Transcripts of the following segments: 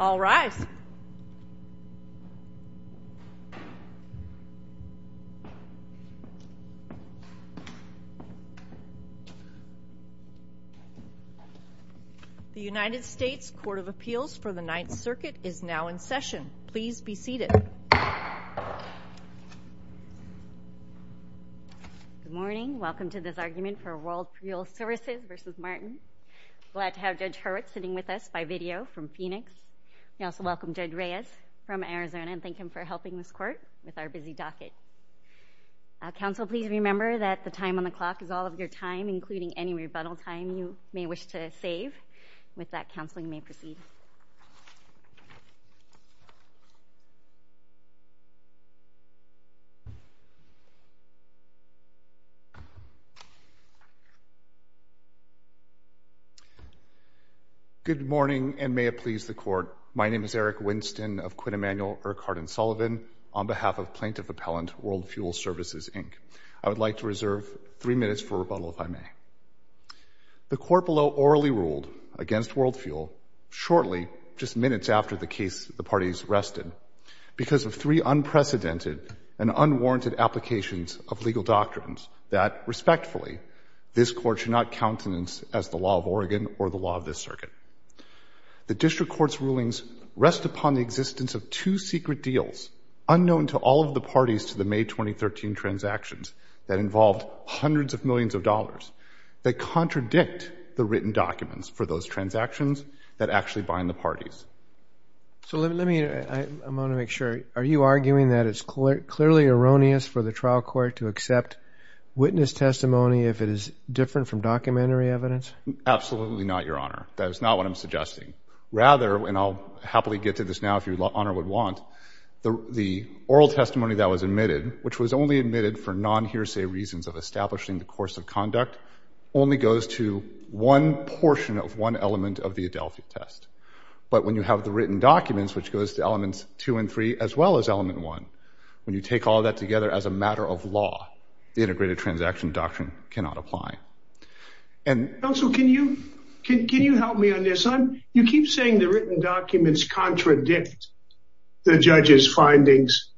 All rise. The United States Court of Appeals for the Ninth Circuit is now in session. Please be seated. Good morning. Welcome to this argument for World Fuel Services v. Martin. I'm glad to have Judge Hurwitz sitting with us by video from Phoenix. We also welcome Judge Reyes from Arizona and thank him for helping this court with our busy docket. Counsel, please remember that the time on the clock is all of your time, including any Good morning, and may it please the Court. My name is Eric Winston of Quinn Emanuel, Urquhart & Sullivan, on behalf of Plaintiff Appellant World Fuel Services, Inc. I would like to reserve three minutes for rebuttal, if I may. The Court below orally ruled against World Fuel shortly, just minutes after the case the parties rested, because of three unprecedented and unwarranted applications of legal doctrines that, respectfully, this Court should not countenance as the law of Oregon or the law of this Circuit. The District Court's rulings rest upon the existence of two secret deals, unknown to all of the parties to the May 2013 transactions that involved hundreds of millions of dollars, that contradict the written documents for those transactions that actually bind the parties. So let me, I want to make sure, are you arguing that it's clearly erroneous for the trial court to accept witness testimony if it is different from documentary evidence? Absolutely not, Your Honor. That is not what I'm suggesting. Rather, and I'll happily get to this now if Your Honor would want, the oral testimony that was admitted, which was only admitted for non-hearsay reasons of establishing the course of conduct, only goes to one portion of one element of the Adelphi test. But when you have the written documents, which goes to elements two and three, as well as all of that together as a matter of law, the Integrated Transaction Doctrine cannot apply. Counsel, can you help me on this? You keep saying the written documents contradict the judge's findings.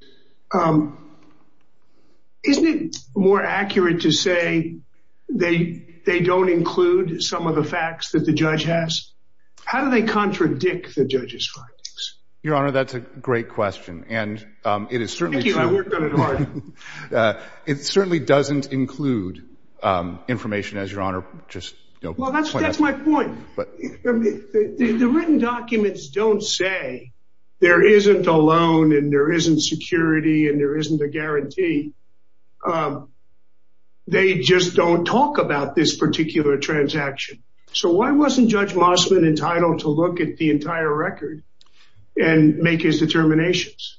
Isn't it more accurate to say they don't include some of the facts that the judge has? How do they contradict the judge's findings? Your Honor, that's a great question. Thank you. I worked on it hard. It certainly doesn't include information, as Your Honor just pointed out. Well, that's my point. The written documents don't say there isn't a loan and there isn't security and there isn't a guarantee. They just don't talk about this particular transaction. So why wasn't Judge Mossman entitled to look at the entire record and make his determinations?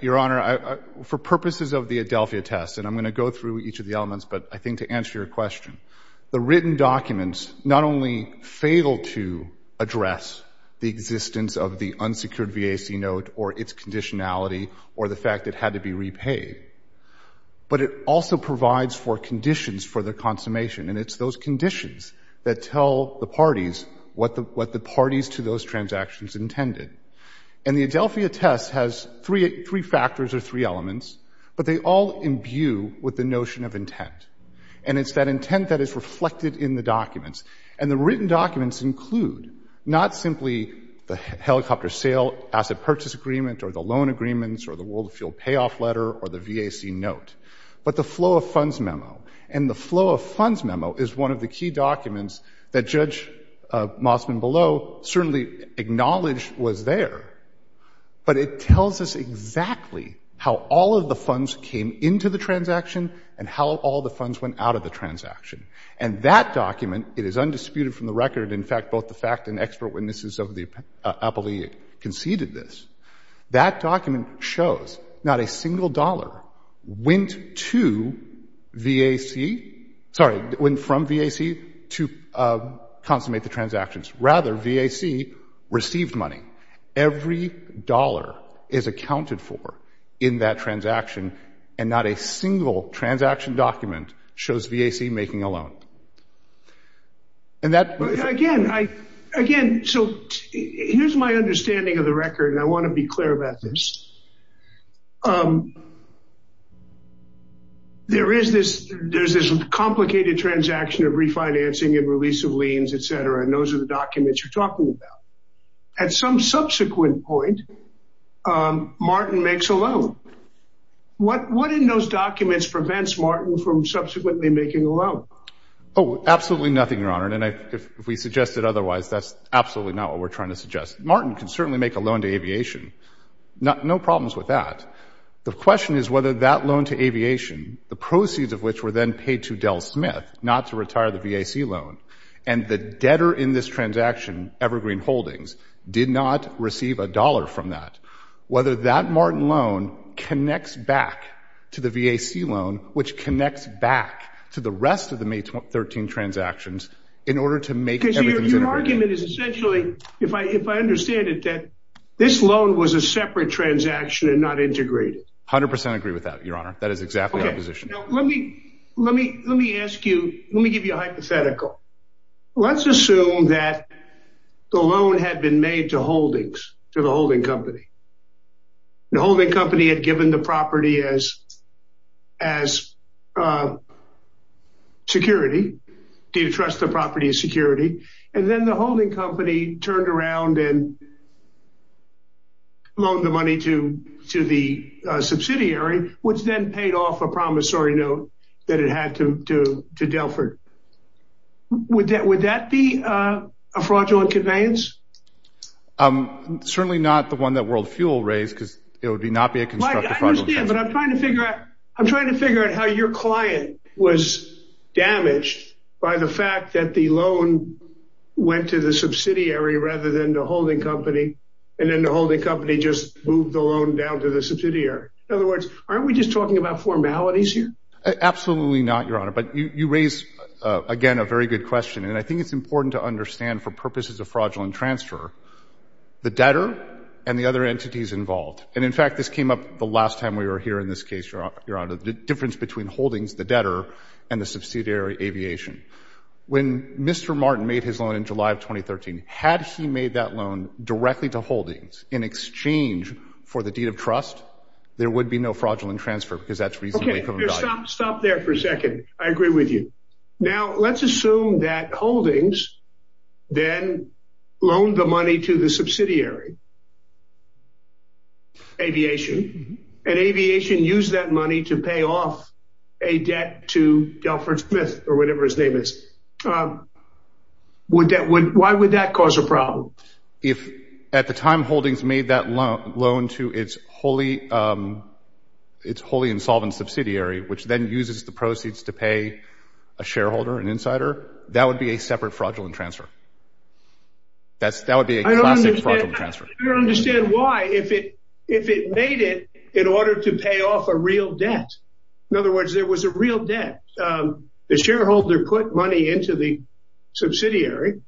Your Honor, for purposes of the Adelphi test, and I'm going to go through each of the elements, but I think to answer your question, the written documents not only fail to address the existence of the unsecured VAC note or its conditionality or the fact it had to be repaid, but it also provides for conditions for the consummation, and it's those conditions that tell the parties what the parties to those transactions intended. And the Adelphi test has three factors or three elements, but they all imbue with the notion of intent, and it's that intent that is reflected in the documents. And the written documents include not simply the helicopter sale asset purchase agreement or the loan agreements or the world fuel payoff letter or the VAC note, but the flow of funds memo. And the flow of funds memo is one of the key documents that Judge Mossman below certainly acknowledged was there, but it tells us exactly how all of the funds came into the transaction and how all the funds went out of the transaction. And that document, it is undisputed from the record, in fact, both the fact and expert witnesses of the appellee conceded this, that document shows not a single dollar went to VAC, sorry, went from VAC to consummate the transactions. Rather, VAC received money. Every dollar is accounted for in that transaction, and not a single transaction document shows VAC making a loan. Again, so here's my understanding of the record, and I want to be clear about this. There is this complicated transaction of refinancing and release of liens, et cetera, and those are the documents you're talking about. At some subsequent point, Martin makes a loan. What in those documents prevents Martin from subsequently making a loan? Oh, absolutely nothing, Your Honor, and if we suggested otherwise, that's absolutely not what we're trying to suggest. Martin can certainly make a loan to aviation. No problems with that. The question is whether that loan to aviation, the proceeds of which were then paid to Del Smith not to retire the VAC loan, and the debtor in this transaction, Evergreen Holdings, did not receive a dollar from that. Whether that Martin loan connects back to the VAC loan, which connects back to the rest of the May 13 transactions, in order to make everything integrated. Your argument is essentially, if I understand it, that this loan was a separate transaction and not integrated. 100% agree with that, Your Honor. That is exactly my position. Okay. Now, let me ask you, let me give you a hypothetical. Let's assume that the loan had been made to Holdings, to the holding company. The holding company had given the property as security, to entrust the property as security, and then the holding company turned around and loaned the money to the subsidiary, which then paid off a promissory note that it had to Delford. Would that be a fraudulent conveyance? Certainly not the one that World Fuel raised, because it would not be a constructive fraudulent conveyance. I understand, but I'm trying to figure out how your client was damaged by the fact that the loan went to the subsidiary rather than the holding company, and then the holding company just moved the loan down to the subsidiary. In other words, aren't we just talking about formalities here? Absolutely not, Your Honor, but you raise, again, a very good question, and I think it's important to understand for purposes of fraudulent transfer, the debtor and the other entities involved. And in fact, this came up the last time we were here in this case, Your Honor, the difference between Holdings, the debtor, and the subsidiary, Aviation. When Mr. Martin made his loan in July of 2013, had he made that loan directly to Holdings in exchange for the deed of trust, there would be no fraudulent transfer, because that's reasonably proven value. Okay. Stop there for a second. I agree with you. Now, let's assume that Holdings then loaned the money to the subsidiary, Aviation, and Aviation used that money to pay off a debt to Delford Smith, or whatever his name is. Why would that cause a problem? If, at the time, Holdings made that loan to its wholly insolvent subsidiary, which then uses the proceeds to pay a shareholder, an insider, that would be a separate fraudulent transfer. That would be a classic fraudulent transfer. I don't understand why, if it made it in order to pay off a real debt. In other words, there was a real debt. The shareholder put money into the subsidiary,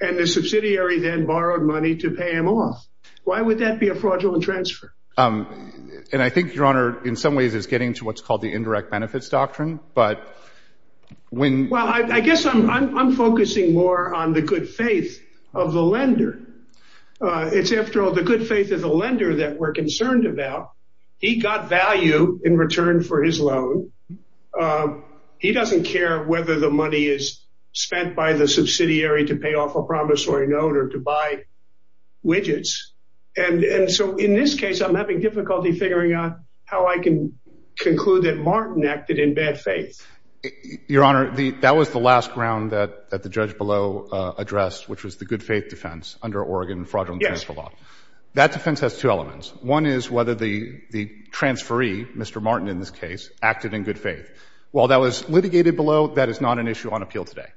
and the subsidiary then borrowed money to pay him off. Why would that be a fraudulent transfer? I think, Your Honor, in some ways, it's getting to what's called the indirect benefits doctrine, but when- Well, I guess I'm focusing more on the good faith of the lender. It's after all the good faith of the lender that we're concerned about. He got value in return for his loan. He doesn't care whether the money is spent by the subsidiary to pay off a promissory note or to buy widgets. In this case, I'm having difficulty figuring out how I can conclude that Martin acted in bad faith. Your Honor, that was the last ground that the judge below addressed, which was the good faith defense under Oregon Fraudulent Transfer Law. That defense has two elements. One is whether the transferee, Mr. Martin in this case, acted in good faith. While that was litigated below, that is not an issue on appeal today.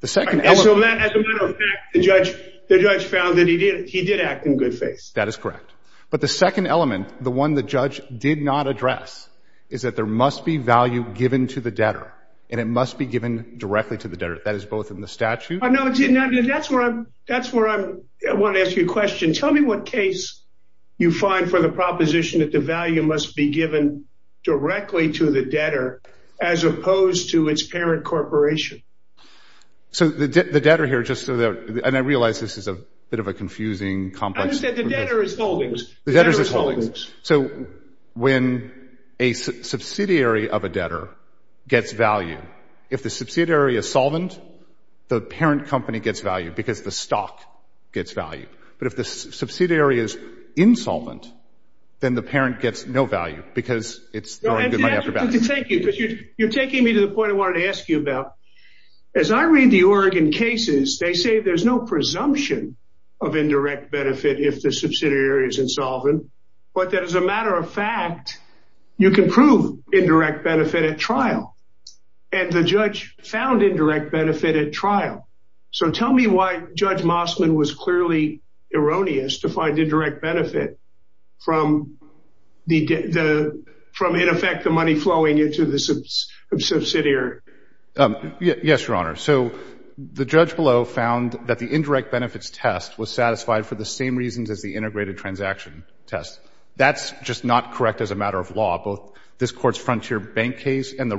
The second element- As a matter of fact, the judge found that he did act in good faith. That is correct. But the second element, the one the judge did not address, is that there must be value given to the debtor, and it must be given directly to the debtor. That is both in the statute- No, it's not. That's where I want to ask you a question. Tell me what case you find for the proposition that the value must be given directly to the debtor as opposed to its parent corporation. So the debtor here, just so that- and I realize this is a bit of a confusing, complex- I understand. The debtor is holdings. The debtor is holdings. So when a subsidiary of a debtor gets value, if the subsidiary is solvent, the parent company gets value because the stock gets value. But if the subsidiary is insolvent, then the parent gets no value because it's throwing good money after bad. Thank you. You're taking me to the point I wanted to ask you about. As I read the Oregon cases, they say there's no presumption of indirect benefit if the subsidiary is insolvent, but that as a matter of fact, you can prove indirect benefit at trial, and the judge found indirect benefit at trial. So tell me why Judge Mossman was clearly erroneous to find indirect benefit from, in effect, the money flowing into the subsidiary. Yes, Your Honor. So the judge below found that the indirect benefits test was satisfied for the same reasons as the integrated transaction test. That's just not correct as a matter of law, both this court's Frontier Bank case and the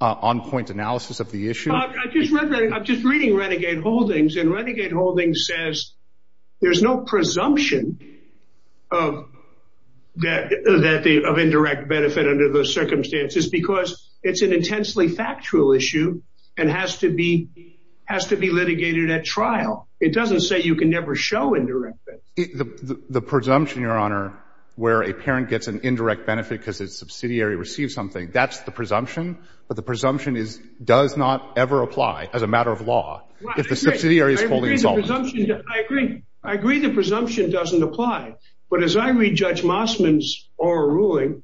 on-point analysis of the issue. I'm just reading Renegade Holdings, and Renegade Holdings says there's no presumption of indirect benefit under those circumstances because it's an intensely factual issue and has to be litigated at trial. It doesn't say you can never show indirect benefit. The presumption, Your Honor, where a parent gets an indirect benefit because its subsidiary receives something, that's the presumption, but the presumption does not ever apply as a matter of law if the subsidiary is wholly insolvent. I agree. I agree the presumption doesn't apply, but as I read Judge Mossman's oral ruling,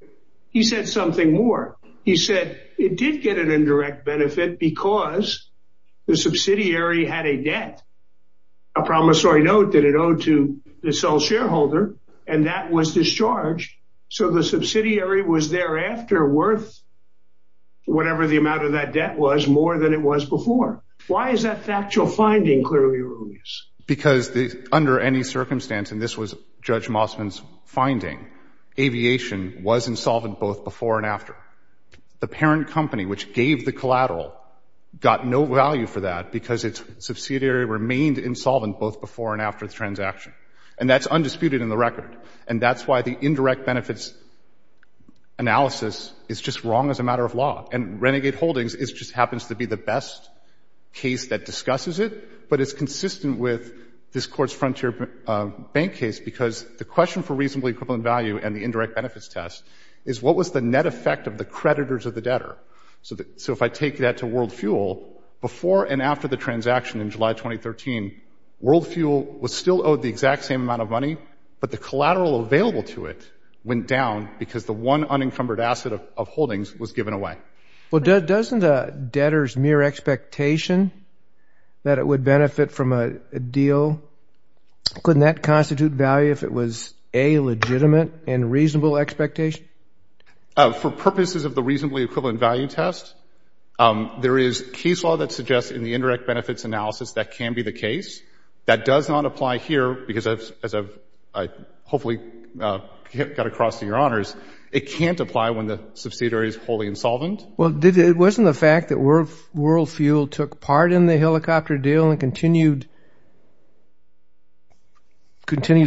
he said something more. He said it did get an indirect benefit because the subsidiary had a debt, a promissory note that it owed to the sole shareholder, and that was discharged, so the subsidiary was thereafter worth whatever the amount of that debt was, more than it was before. Why is that factual finding clearly erroneous? Because under any circumstance, and this was Judge Mossman's finding, aviation was insolvent both before and after. The parent company, which gave the collateral, got no value for that because its subsidiary remained insolvent both before and after the transaction. And that's undisputed in the record. And that's why the indirect benefits analysis is just wrong as a matter of law. And Renegade Holdings just happens to be the best case that discusses it, but it's consistent with this Court's Frontier Bank case because the question for reasonably equivalent value and the indirect benefits test is what was the net effect of the creditors of the debtor? So if I take that to WorldFuel, before and after the transaction in July 2013, WorldFuel was still owed the exact same amount of money, but the collateral available to it went down because the one unencumbered asset of Holdings was given away. Well, doesn't a debtor's mere expectation that it would benefit from a deal, couldn't that constitute value if it was a legitimate and reasonable expectation? For purposes of the reasonably equivalent value test, there is case law that suggests in the indirect benefits analysis that can be the case. That does not apply here because, as I've hopefully got across to your honors, it can't apply when the subsidiary is wholly insolvent. Well, wasn't the fact that WorldFuel took part in the helicopter deal and continued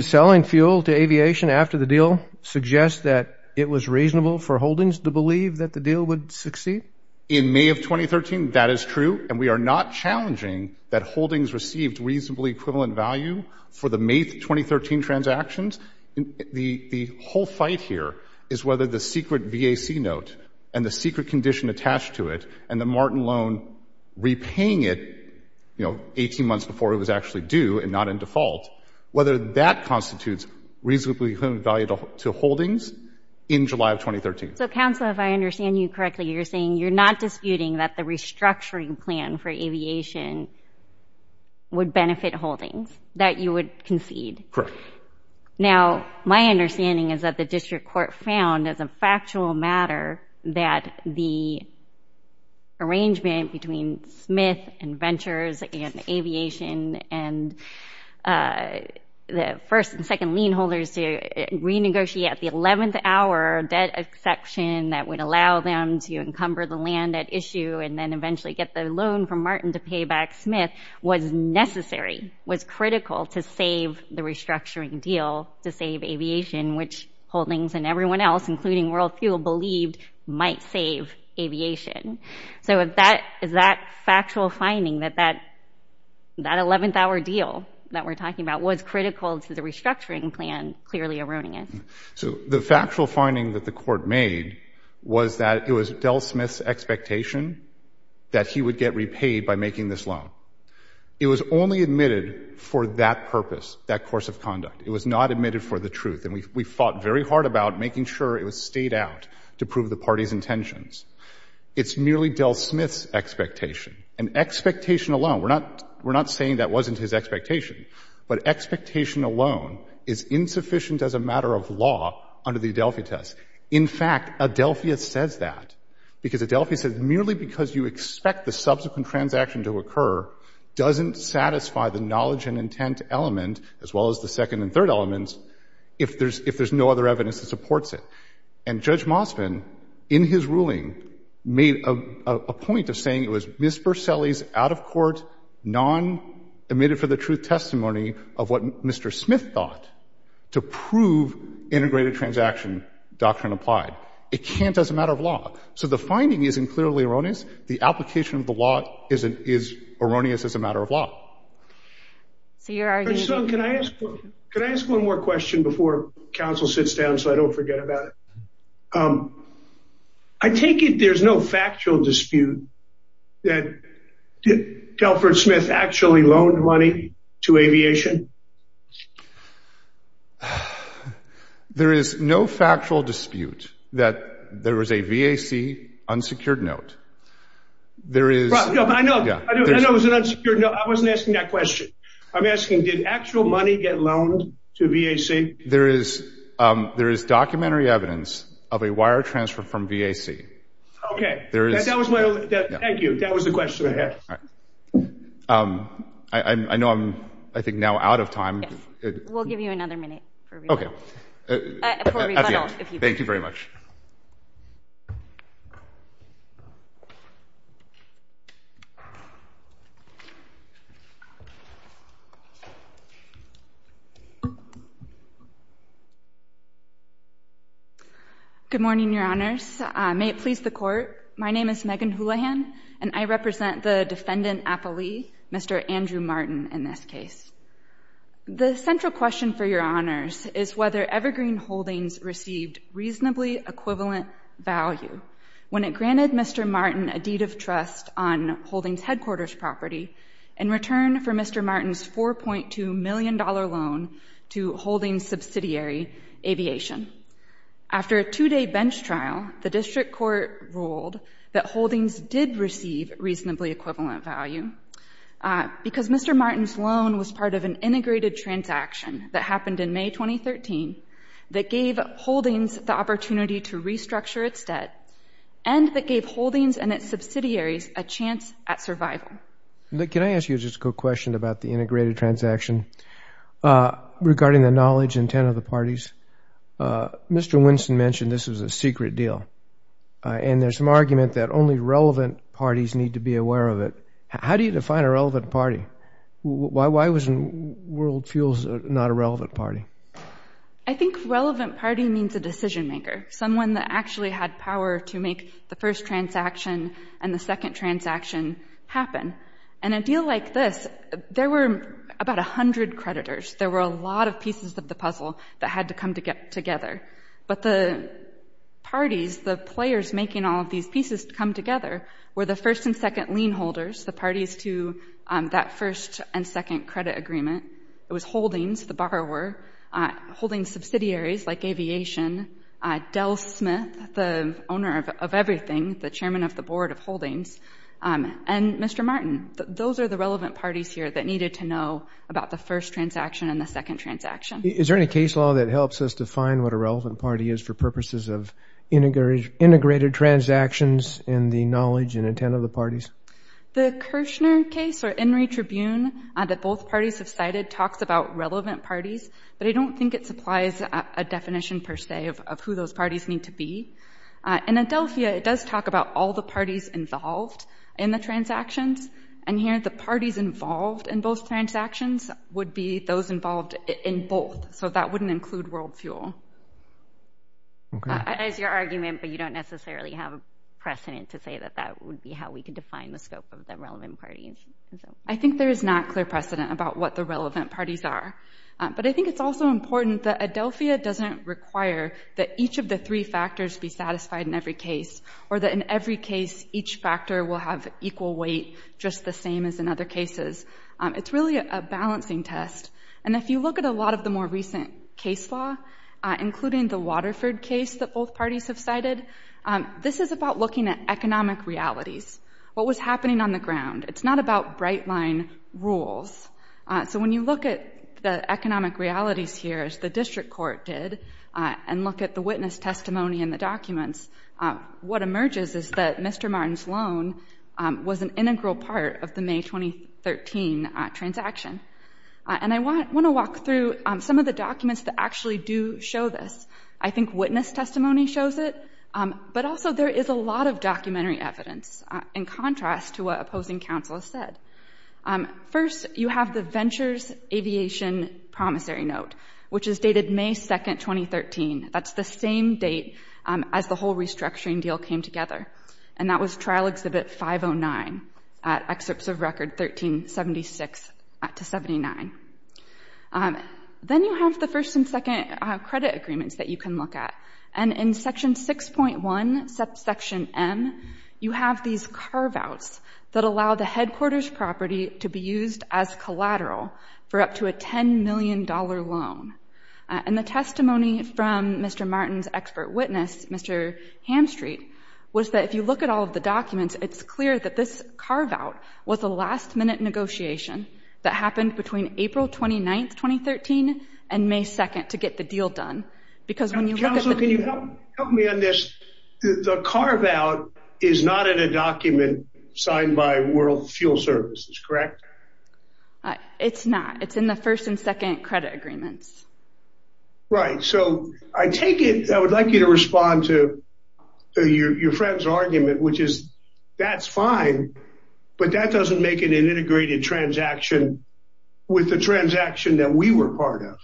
selling fuel to aviation after the deal suggest that it was reasonable for Holdings to believe that the deal would succeed? In May of 2013, that is true, and we are not challenging that Holdings received reasonably equivalent value for the May 2013 transactions. The whole fight here is whether the secret VAC note and the secret condition attached to it and the Martin loan repaying it, you know, 18 months before it was actually due and not in default, whether that constitutes reasonably equivalent value to Holdings in July of 2013. So, counsel, if I understand you correctly, you're saying you're not disputing that the restructuring plan for aviation would benefit Holdings, that you would concede? Correct. Now, my understanding is that the district court found as a factual matter that the arrangement between Smith and Ventures and Aviation and the first and second lien holders to renegotiate the 11th hour debt exception that would allow them to encumber the land at issue and then eventually get the loan from Martin to pay back Smith was necessary, was critical to save the restructuring deal to save aviation, which Holdings and everyone else, including WorldFuel, believed might save aviation. So is that factual finding that that 11th hour deal that we're talking about was critical to the restructuring plan clearly eroding it? So the factual finding that the court made was that it was Del Smith's expectation that he would get repaid by making this loan. It was only admitted for that purpose, that course of conduct. It was not admitted for the truth. And we fought very hard about making sure it was stayed out to prove the party's intentions. It's merely Del Smith's expectation. And expectation alone, we're not saying that wasn't his expectation, but expectation alone is insufficient as a matter of law under the Adelphi test. In fact, Adelphia says that because Adelphia says merely because you expect the subsequent transaction to occur doesn't satisfy the knowledge and intent element, as well as the second and third elements, if there's no other evidence that supports it. And Judge Mosvin, in his ruling, made a point of saying it was Ms. Berselli's out-of-court, non-admitted-for-the-truth testimony of what Mr. Smith thought to prove integrated transaction doctrine applied. It can't as a matter of law. So the finding isn't clearly erroneous. The application of the law is erroneous as a matter of law. So you're arguing— Could I ask one more question before counsel sits down so I don't forget about it? I take it there's no factual dispute that Delford Smith actually loaned money to aviation? There is no factual dispute that there was a VAC unsecured note. There is— I know. I know it was an unsecured note. I wasn't asking that question. I'm asking, did actual money get loaned to VAC? There is documentary evidence of a wire transfer from VAC. Okay. That was my— Thank you. That was the question I had. All right. I know I'm, I think, now out of time. We'll give you another minute for rebuttal. Okay. For rebuttal, if you please. At the end. Thank you very much. Good morning, Your Honors. May it please the Court, my name is Megan Houlihan, and I represent the Defendant Appelee, Mr. Andrew Martin, in this case. The central question for Your Honors is whether Evergreen Holdings received reasonably equivalent value. When it granted Mr. Martin a deed of trust on Holdings Headquarters property, in return for Mr. Martin's $4.2 million loan to Holdings subsidiary, Aviation. After a two-day bench trial, the district court ruled that Holdings did receive reasonably equivalent value because Mr. Martin's loan was part of an integrated transaction that happened in May 2013 that gave Holdings the opportunity to restructure its debt and that gave Holdings and its subsidiaries a chance at survival. Can I ask you just a quick question about the integrated transaction? Regarding the knowledge and intent of the parties, Mr. Winston mentioned this was a secret deal, and there's some argument that only relevant parties need to be aware of it. How do you define a relevant party? Why was World Fuels not a relevant party? I think relevant party means a decision maker, someone that actually had power to make the And a deal like this, there were about 100 creditors. There were a lot of pieces of the puzzle that had to come together. But the parties, the players making all of these pieces come together were the first and second lien holders, the parties to that first and second credit agreement. It was Holdings, the borrower, Holdings subsidiaries like Aviation, Dell Smith, the owner of everything, the chairman of the board of Holdings, and Mr. Martin. Those are the relevant parties here that needed to know about the first transaction and the second transaction. Is there any case law that helps us define what a relevant party is for purposes of integrated transactions and the knowledge and intent of the parties? The Kirchner case or Enry Tribune that both parties have cited talks about relevant parties, but I don't think it supplies a definition per se of who those parties need to be. In Adelphia, it does talk about all the parties involved in the transactions. And here, the parties involved in both transactions would be those involved in both. So that wouldn't include WorldFuel. As your argument, but you don't necessarily have a precedent to say that that would be how we can define the scope of the relevant parties. I think there is not clear precedent about what the relevant parties are. But I think it's also important that Adelphia doesn't require that each of the three factors be satisfied in every case, or that in every case, each factor will have equal weight, just the same as in other cases. It's really a balancing test. And if you look at a lot of the more recent case law, including the Waterford case that both parties have cited, this is about looking at economic realities, what was happening on the ground. It's not about bright line rules. So when you look at the economic realities here, as the district court did, and look at the witness testimony in the documents, what emerges is that Mr. Martin's loan was an integral part of the May 2013 transaction. And I want to walk through some of the documents that actually do show this. I think witness testimony shows it. But also, there is a lot of documentary evidence in contrast to what opposing counsel has said. First, you have the Ventures Aviation Promissory Note, which is dated May 2, 2013. That's the same date as the whole restructuring deal came together. And that was Trial Exhibit 509, Excerpts of Record 1376-79. Then you have the first and second credit agreements that you can look at. And in Section 6.1, Section M, you have these carve-outs that allow the headquarters property to be used as collateral for up to a $10 million loan. And the testimony from Mr. Martin's expert witness, Mr. Hamstreet, was that if you look at all of the documents, it's clear that this carve-out was a last-minute negotiation that happened between April 29, 2013 and May 2 to get the deal done. Because when you look at the- Counsel, can you help me on this? The carve-out is not in a document signed by World Fuel Services, correct? It's not. It's in the first and second credit agreements. Right. So, I take it, I would like you to respond to your friend's argument, which is, that's fine, but that doesn't make it an integrated transaction with the transaction that we were part of.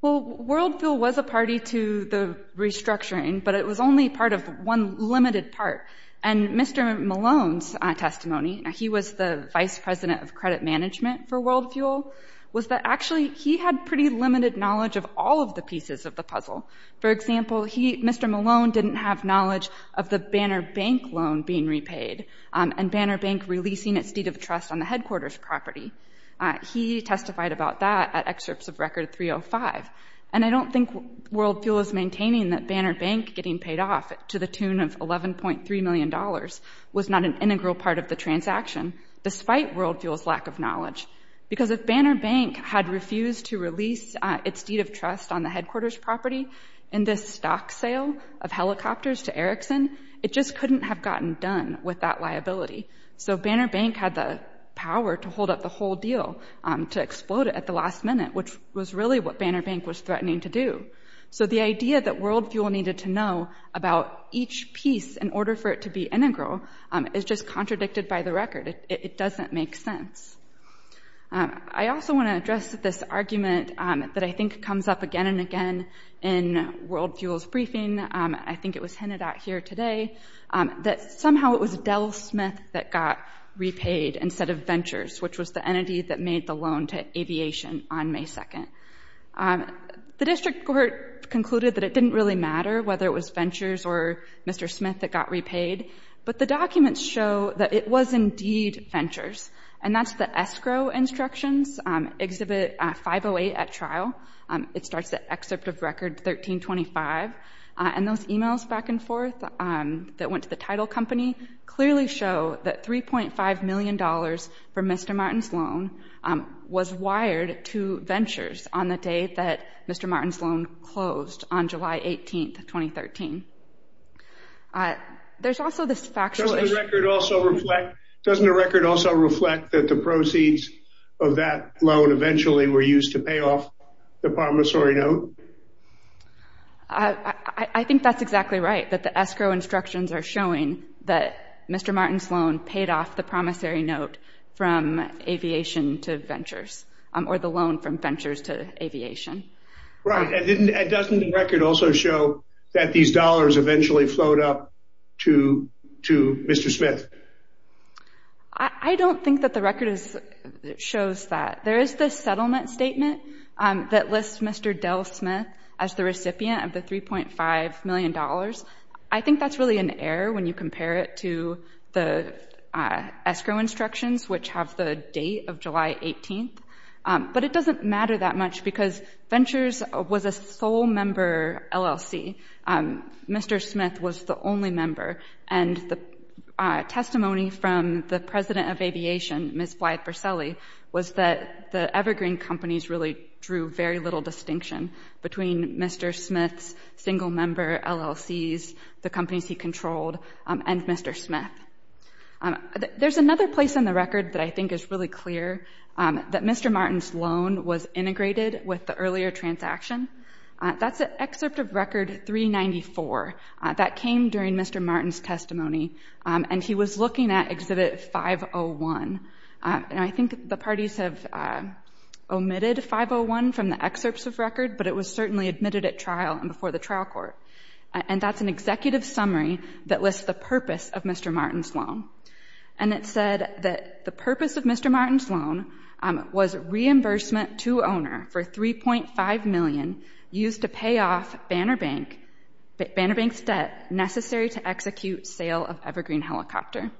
Well, World Fuel was a party to the restructuring, but it was only part of one limited part. And Mr. Malone's testimony, he was the vice president of credit management for World Fuel, was that actually he had pretty limited knowledge of all of the pieces of the puzzle. For example, Mr. Malone didn't have knowledge of the Banner Bank loan being repaid and Banner Bank releasing its deed of trust on the headquarters property. He testified about that at excerpts of Record 305. And I don't think World Fuel is maintaining that Banner Bank getting paid off to the tune of $11.3 million was not an integral part of the transaction, despite World Fuel's lack of knowledge. Because if Banner Bank had refused to release its deed of trust on the headquarters property in this stock sale of helicopters to Erickson, it just couldn't have gotten done with that liability. So Banner Bank had the power to hold up the whole deal, to explode it at the last minute, which was really what Banner Bank was threatening to do. So the idea that World Fuel needed to know about each piece in order for it to be integral is just contradicted by the record. It doesn't make sense. I also want to address this argument that I think comes up again and again in World Fuel's briefing, I think it was hinted at here today, that somehow it was Dell Smith that got repaid instead of Ventures, which was the entity that made the loan to aviation on May 2nd. The district court concluded that it didn't really matter whether it was Ventures or Mr. Smith that got repaid, but the documents show that it was indeed Ventures. And that's the escrow instructions, Exhibit 508 at trial. It starts at Excerpt of Record 1325. And those emails back and forth that went to the title company clearly show that $3.5 million for Mr. Martin's loan was wired to Ventures on the day that Mr. Martin's loan closed on July 18th, 2013. There's also this factual... Doesn't the record also reflect that the proceeds of that loan eventually were used to pay off the promissory note? I think that's exactly right, that the escrow instructions are showing that Mr. Martin's loan was the promissory note from Aviation to Ventures, or the loan from Ventures to Aviation. Right. And doesn't the record also show that these dollars eventually flowed up to Mr. Smith? I don't think that the record shows that. There is the settlement statement that lists Mr. Dell Smith as the recipient of the $3.5 million. I think that's really an error when you compare it to the escrow instructions, which have the date of July 18th. But it doesn't matter that much because Ventures was a sole member LLC. Mr. Smith was the only member. And the testimony from the president of Aviation, Ms. Blythe Verselli, was that the Evergreen companies really drew very little distinction between Mr. Smith's single member LLCs, the companies he controlled, and Mr. Smith. There's another place in the record that I think is really clear, that Mr. Martin's loan was integrated with the earlier transaction. That's at Excerpt of Record 394. That came during Mr. Martin's testimony. And he was looking at Exhibit 501. And I think the parties have omitted 501 from the excerpts of record, but it was certainly admitted at trial and before the trial court. And that's an executive summary that lists the purpose of Mr. Martin's loan. And it said that the purpose of Mr. Martin's loan was reimbursement to owner for $3.5 million used to pay off Banner Bank's debt necessary to execute sale of Evergreen Helicopter.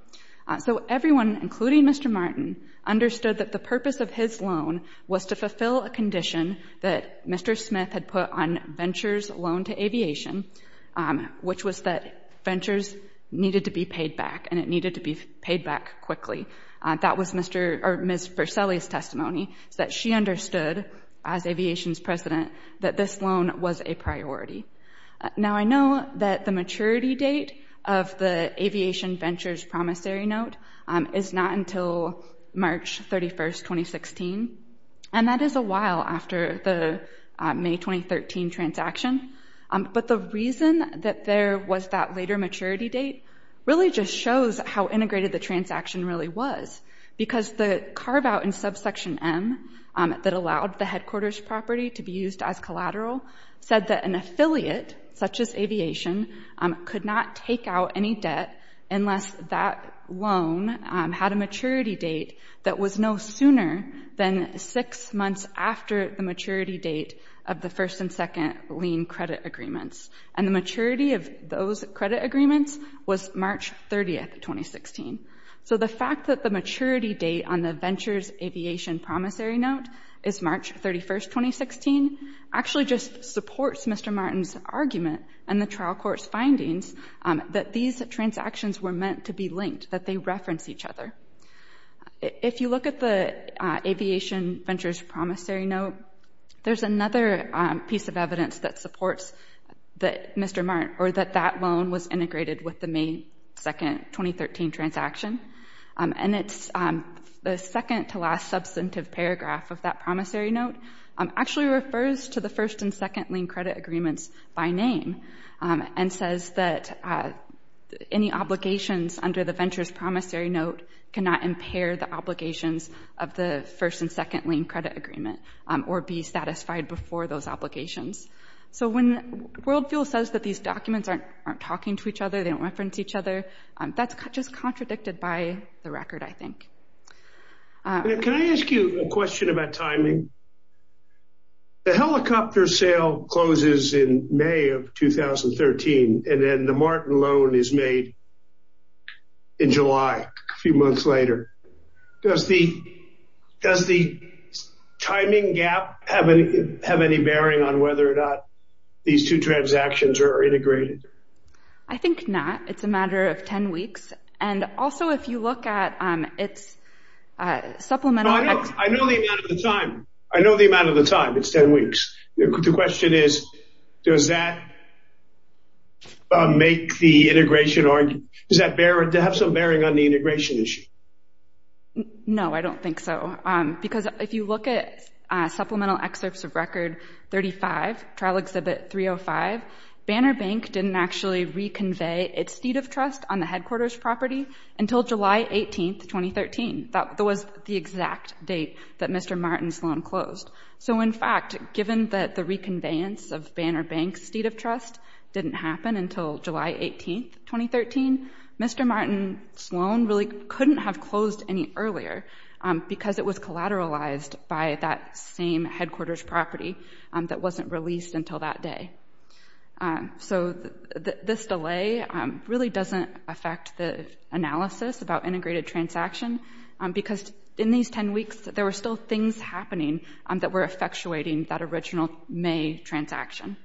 So everyone, including Mr. Martin, understood that the purpose of his loan was to fulfill a condition that Mr. Smith had put on Venture's loan to aviation, which was that Venture's needed to be paid back and it needed to be paid back quickly. That was Ms. Verselli's testimony, that she understood, as aviation's president, that this loan was a priority. Now, I know that the maturity date of the Aviation Venture's promissory note is not until March 31st, 2016. And that is a while after the May 2013 transaction. But the reason that there was that later maturity date really just shows how integrated the transaction really was. Because the carve-out in subsection M that allowed the headquarters property to be used as collateral said that an affiliate, such as aviation, could not take out any debt unless that loan had a maturity date that was no sooner than six months after the maturity date of the first and second lien credit agreements. And the maturity of those credit agreements was March 30th, 2016. So the fact that the maturity date on the Venture's aviation promissory note is March 31st, 2016, actually just supports Mr. Mart's new trial court's findings that these transactions were meant to be linked, that they reference each other. If you look at the Aviation Venture's promissory note, there's another piece of evidence that supports that Mr. Mart or that that loan was integrated with the May 2nd, 2013 transaction. And it's the second to last substantive paragraph of that promissory note actually refers to the first and second lien credit agreements by name and says that any obligations under the Venture's promissory note cannot impair the obligations of the first and second lien credit agreement or be satisfied before those obligations. So when WorldFuel says that these documents aren't talking to each other, they don't reference each other, that's just contradicted by the record, I think. Can I ask you a question about timing? The helicopter sale closes in May of 2013 and then the Martin loan is made in July, a few months later. Does the timing gap have any bearing on whether or not these two transactions are integrated? I think not. It's a matter of 10 weeks. And also, if you look at its supplemental... I know the amount of the time, I know the amount of the time. It's 10 weeks. The question is, does that make the integration or does that have some bearing on the integration issue? No, I don't think so. Because if you look at supplemental excerpts of record 35, trial exhibit 305, Banner Bank didn't actually reconvey its seat of trust on the headquarters property until July 18th, 2013. That was the exact date that Mr. Martin's loan closed. So in fact, given that the reconveyance of Banner Bank's seat of trust didn't happen until July 18th, 2013, Mr. Martin's loan really couldn't have closed any earlier because it was collateralized by that same headquarters property that wasn't released until that day. So this delay really doesn't affect the analysis about integrated transaction, because in these 10 weeks, there were still things happening that were effectuating that original May transaction.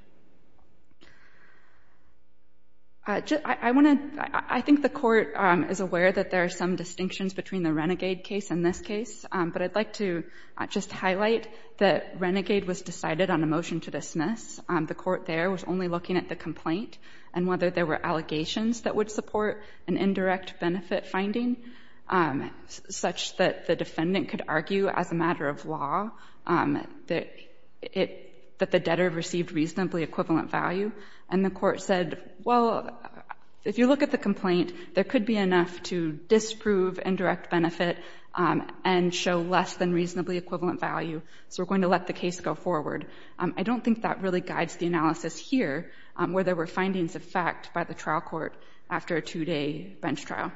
I think the court is aware that there are some distinctions between the Renegade case and this case, but I'd like to just highlight that Renegade was decided on a motion to dismiss. The court there was only looking at the complaint and whether there were allegations that would support an indirect benefit finding such that the defendant could argue as a matter of law that the debtor received reasonably equivalent value. And the court said, well, if you look at the complaint, there could be enough to disprove indirect benefit and show less than reasonably equivalent value. So we're going to let the case go forward. I don't think that really guides the analysis here, where there were findings of fact by the trial court after a two-day bench trial.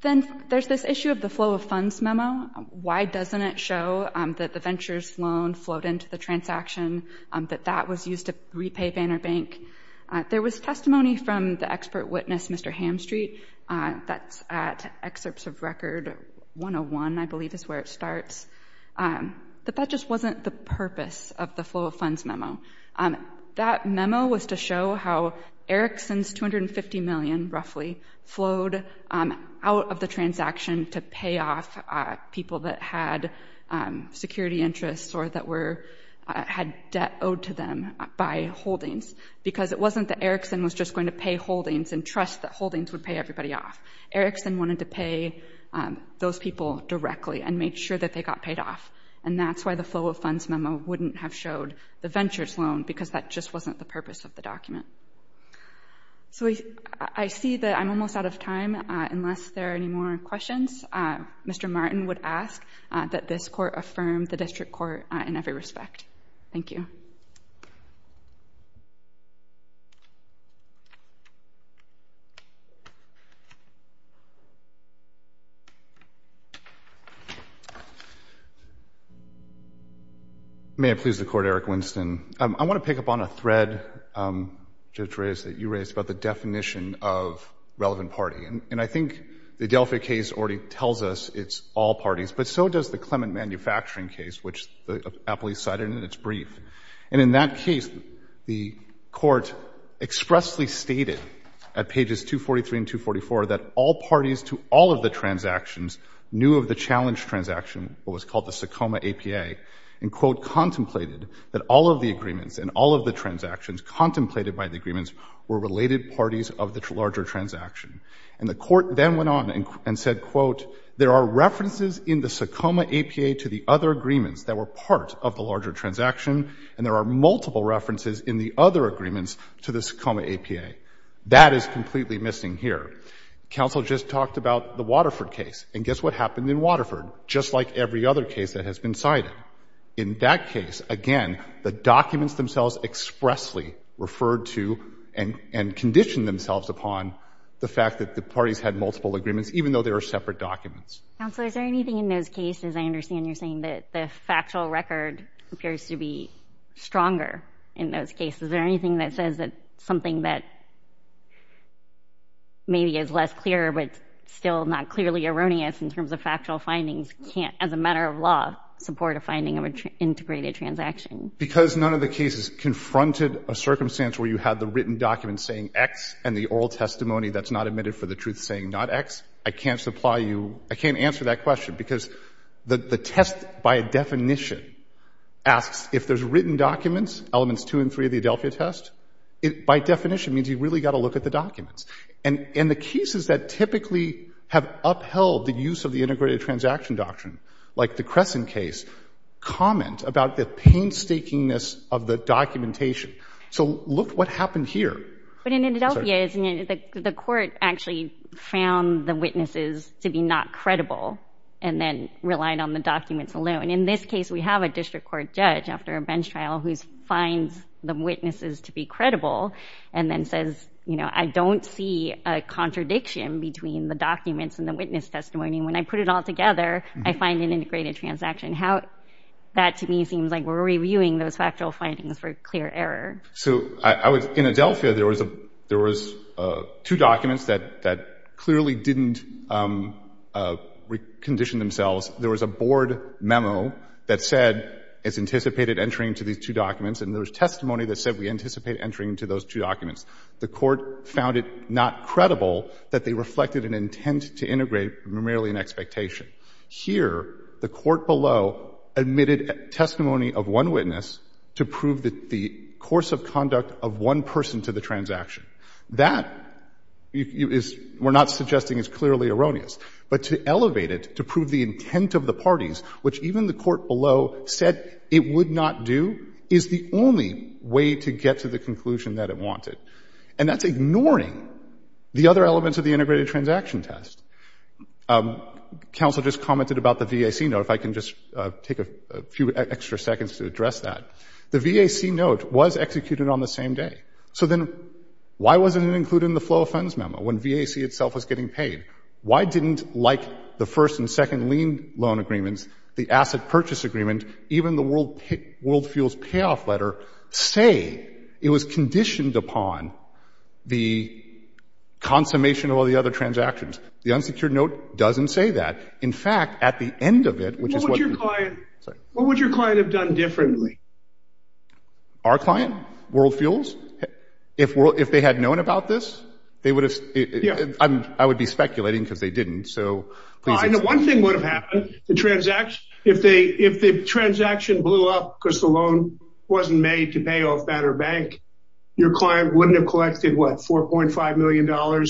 Then there's this issue of the flow of funds memo. Why doesn't it show that the venture's loan flowed into the transaction, that that was used to repay Banner Bank? There was testimony from the expert witness, Mr. Hamstreet, that's at Excerpts of Record 101, I believe is where it starts. That that just wasn't the purpose of the flow of funds memo. That memo was to show how Erickson's $250 million, roughly, flowed out of the transaction to pay off people that had security interests or that had debt owed to them by holdings. Because it wasn't that Erickson was just going to pay holdings and trust that holdings would pay everybody off. Erickson wanted to pay those people directly and make sure that they got paid off. And that's why the flow of funds memo wouldn't have showed the venture's loan, because that just wasn't the purpose of the document. So I see that I'm almost out of time, unless there are any more questions. Mr. Martin would ask that this court affirm the district court in every respect. Thank you. May it please the court, Erick Winston, I want to pick up on a thread, Judge Reyes, that you raised about the definition of relevant party. And I think the Delphi case already tells us it's all parties, but so does the Clement manufacturing case, which the appellee cited in its brief. And in that case, the court expressly stated at pages 243 and 244 that all parties to all of the transactions knew of the challenge transaction, what was called the Sakoma APA, and, quote, contemplated that all of the agreements and all of the transactions contemplated by the agreements were related parties of the larger transaction. And the court then went on and said, quote, there are references in the Sakoma APA to the other agreements that were part of the larger transaction, and there are multiple references in the other agreements to the Sakoma APA. That is completely missing here. Counsel just talked about the Waterford case. And guess what happened in Waterford, just like every other case that has been cited. In that case, again, the documents themselves expressly referred to and conditioned themselves upon the fact that the parties had multiple agreements, even though there are separate documents. Counsel, is there anything in those cases, I understand you're saying that the factual record appears to be stronger in those cases. Is there anything that says that something that maybe is less clear, but still not clearly erroneous in terms of factual findings can't, as a matter of law, support a finding of an integrated transaction? Because none of the cases confronted a circumstance where you had the written documents saying X and the oral testimony that's not admitted for the truth saying not X, I can't supply you, I can't answer that question because the test by definition asks if there's written documents, elements two and three of the Adelphia test, it by definition means you've really got to look at the documents. And in the cases that typically have upheld the use of the integrated transaction doctrine, like the Crescent case, comment about the painstakingness of the documentation. So look what happened here. But in Adelphia, the court actually found the witnesses to be not credible and then relied on the documents alone. And in this case, we have a district court judge after a bench trial who finds the witnesses to be credible and then says, you know, I don't see a contradiction between the documents and the witness testimony. When I put it all together, I find an integrated transaction. How that to me seems like we're reviewing those factual findings for clear error. So I was in Adelphia. There was a there was two documents that that clearly didn't recondition themselves. There was a board memo that said it's anticipated entering to these two documents and there was testimony that said we anticipate entering to those two documents. The court found it not credible that they reflected an intent to integrate primarily an expectation. Here, the court below admitted testimony of one witness to prove that the course of conduct of one person to the transaction. That is we're not suggesting is clearly erroneous. But to elevate it, to prove the intent of the parties, which even the court below said it would not do, is the only way to get to the conclusion that it wanted. And that's ignoring the other elements of the integrated transaction test. Counsel just commented about the VAC note, if I can just take a few extra seconds to address that. The VAC note was executed on the same day. So then why wasn't it included in the flow of funds memo when VAC itself was getting paid? Why didn't, like the first and second lien loan agreements, the asset purchase agreement, even the World Fuels payoff letter say it was conditioned upon the consummation of all the other transactions? The unsecured note doesn't say that. In fact, at the end of it, which is what your client, what would your client have done differently? Our client, World Fuels, if they had known about this, they would have, I would be speculating because they didn't. So one thing would have happened, the transaction, if the transaction blew up because the loan wasn't made to pay off Banner Bank, your client wouldn't have collected what, $4.5 million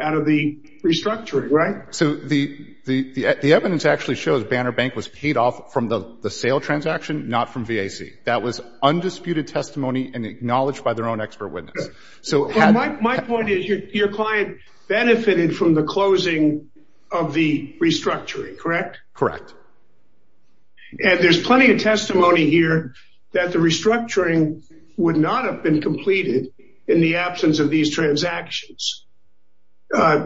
out of the restructuring, right? So the evidence actually shows Banner Bank was paid off from the sale transaction, not from VAC. That was undisputed testimony and acknowledged by their own expert witness. So my point is your client benefited from the closing of the restructuring, correct? Correct. And there's plenty of testimony here that the restructuring would not have been completed in the absence of these transactions,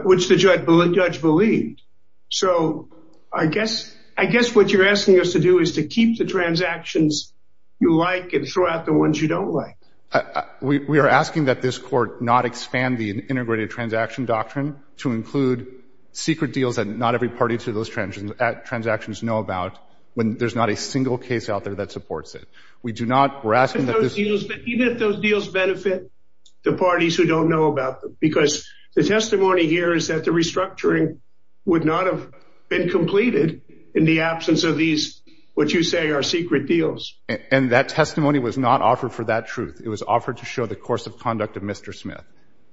which the judge believed. So I guess, I guess what you're asking us to do is to keep the transactions you like and throw out the ones you don't like. We are asking that this court not expand the integrated transaction doctrine to include secret deals that not every party to those transactions know about when there's not a single case out there that supports it. We do not, we're asking that this- Even if those deals benefit the parties who don't know about them, because the testimony here is that the restructuring would not have been completed in the absence of these, what you say are secret deals. And that testimony was not offered for that truth. It was offered to show the course of conduct of Mr. Smith.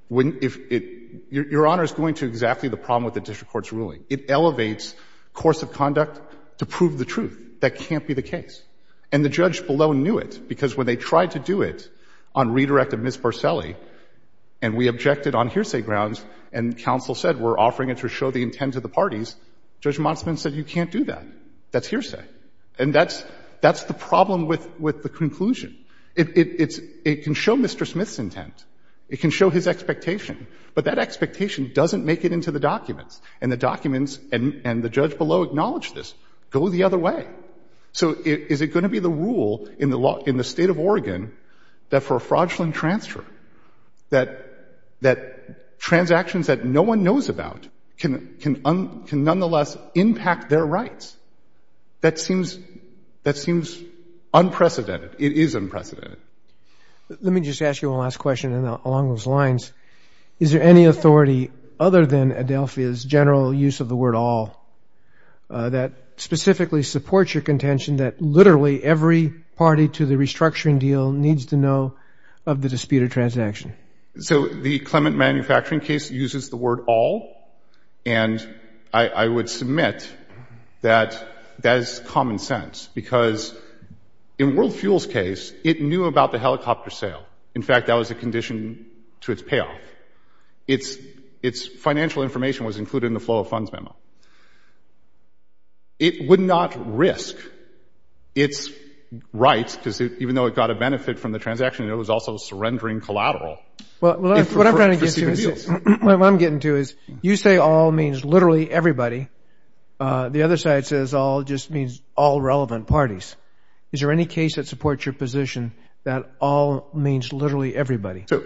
When, if it, your Honor is going to exactly the problem with the district court's ruling. It elevates course of conduct to prove the truth that can't be the case. And the judge below knew it because when they tried to do it on redirect of Ms. Borselli and we objected on hearsay grounds and counsel said, we're offering it to show the intent of the parties, Judge Motsman said, you can't do that. That's hearsay. And that's, that's the problem with, with the conclusion. It's, it can show Mr. Smith's intent. It can show his expectation, but that expectation doesn't make it into the documents and the documents and the judge below acknowledged this, go the other way. So is it going to be the rule in the law, in the state of Oregon, that for a fraudulent transfer, that, that transactions that no one knows about can, can, can nonetheless impact their rights? That seems, that seems unprecedented. It is unprecedented. Let me just ask you one last question. And along those lines, is there any authority other than Adelphia's general use of the word all that specifically supports your contention that literally every party to the restructuring deal needs to know of the disputed transaction? So the Clement manufacturing case uses the word all. And I would submit that that is common sense because in World Fuel's case, it knew about the helicopter sale. In fact, that was a condition to its payoff. Its, its financial information was included in the flow of funds memo. It would not risk its rights because even though it got a benefit from the transaction, it was also surrendering collateral. Well, what I'm getting to is you say all means literally everybody. The other side says all just means all relevant parties. Is there any case that supports your position that all means literally everybody? So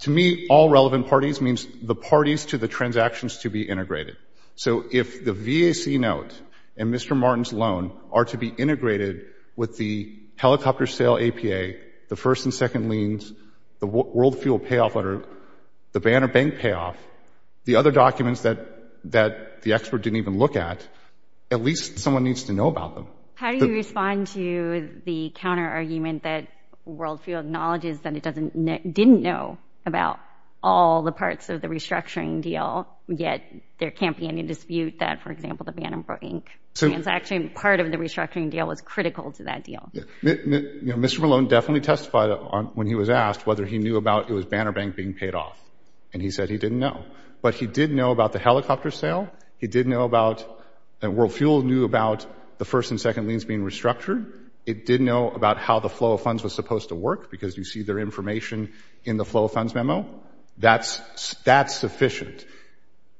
to me, all relevant parties means the parties to the transactions to be integrated. So if the VAC note and Mr. Martin's loan are to be integrated with the helicopter sale APA, the first and second liens, the World Fuel payoff letter, the Banner Bank payoff, the other documents that that the expert didn't even look at, at least someone needs to know about them. How do you respond to the counter argument that World Fuel acknowledges that it didn't know about all the parts of the restructuring deal, yet there can't be any dispute that, for example, the Banner Bank transaction, part of the restructuring deal was critical to that deal. You know, Mr. Malone definitely testified when he was asked whether he knew about it was Banner Bank being paid off and he said he didn't know, but he did know about the helicopter sale. He did know about World Fuel, knew about the first and second liens being restructured. It did know about how the flow of funds was supposed to work because you see their information in the flow of funds memo. That's that's sufficient.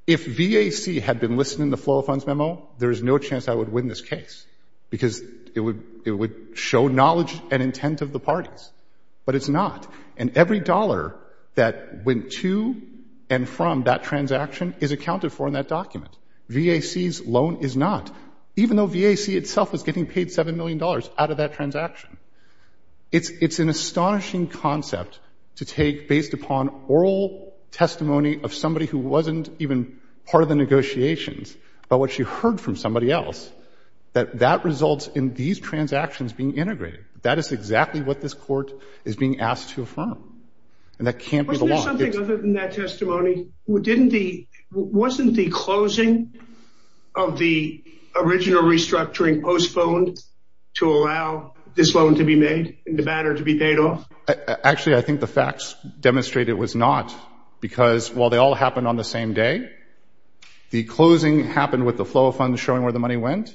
If VAC had been listening, the flow of funds memo, there is no chance I would win this show knowledge and intent of the parties, but it's not. And every dollar that went to and from that transaction is accounted for in that document. VAC's loan is not, even though VAC itself is getting paid seven million dollars out of that transaction. It's an astonishing concept to take based upon oral testimony of somebody who wasn't even part of the negotiations, but what she heard from somebody else, that that results in these transactions being integrated. That is exactly what this court is being asked to affirm. And that can't be the law. Wasn't there something other than that testimony? Wasn't the closing of the original restructuring postponed to allow this loan to be made and the banner to be paid off? Actually, I think the facts demonstrate it was not because while they all happened on the same day, the closing happened with the flow of funds showing where the money went.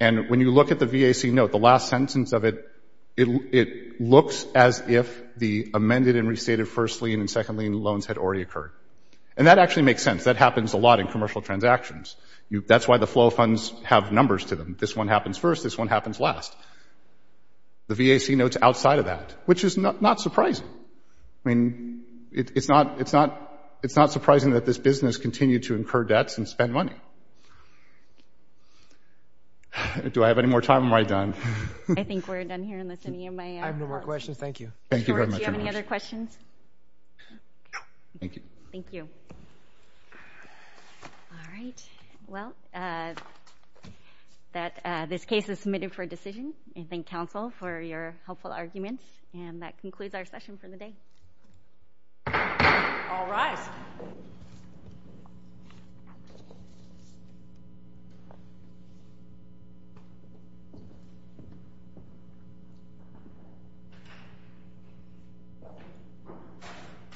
And when you look at the VAC note, the last sentence of it, it looks as if the amended and restated first lien and second lien loans had already occurred. And that actually makes sense. That happens a lot in commercial transactions. That's why the flow of funds have numbers to them. This one happens first. This one happens last. The VAC notes outside of that, which is not surprising. I mean, it's not surprising that this business continued to incur debts and spend money. Do I have any more time? Am I done? I think we're done here. Unless any of my questions. Thank you. Thank you very much. Do you have any other questions? Thank you. Thank you. All right. Well, that this case is submitted for a decision. I thank counsel for your helpful arguments. And that concludes our session for the day. All rise.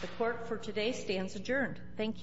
The court for today stands adjourned. Thank you.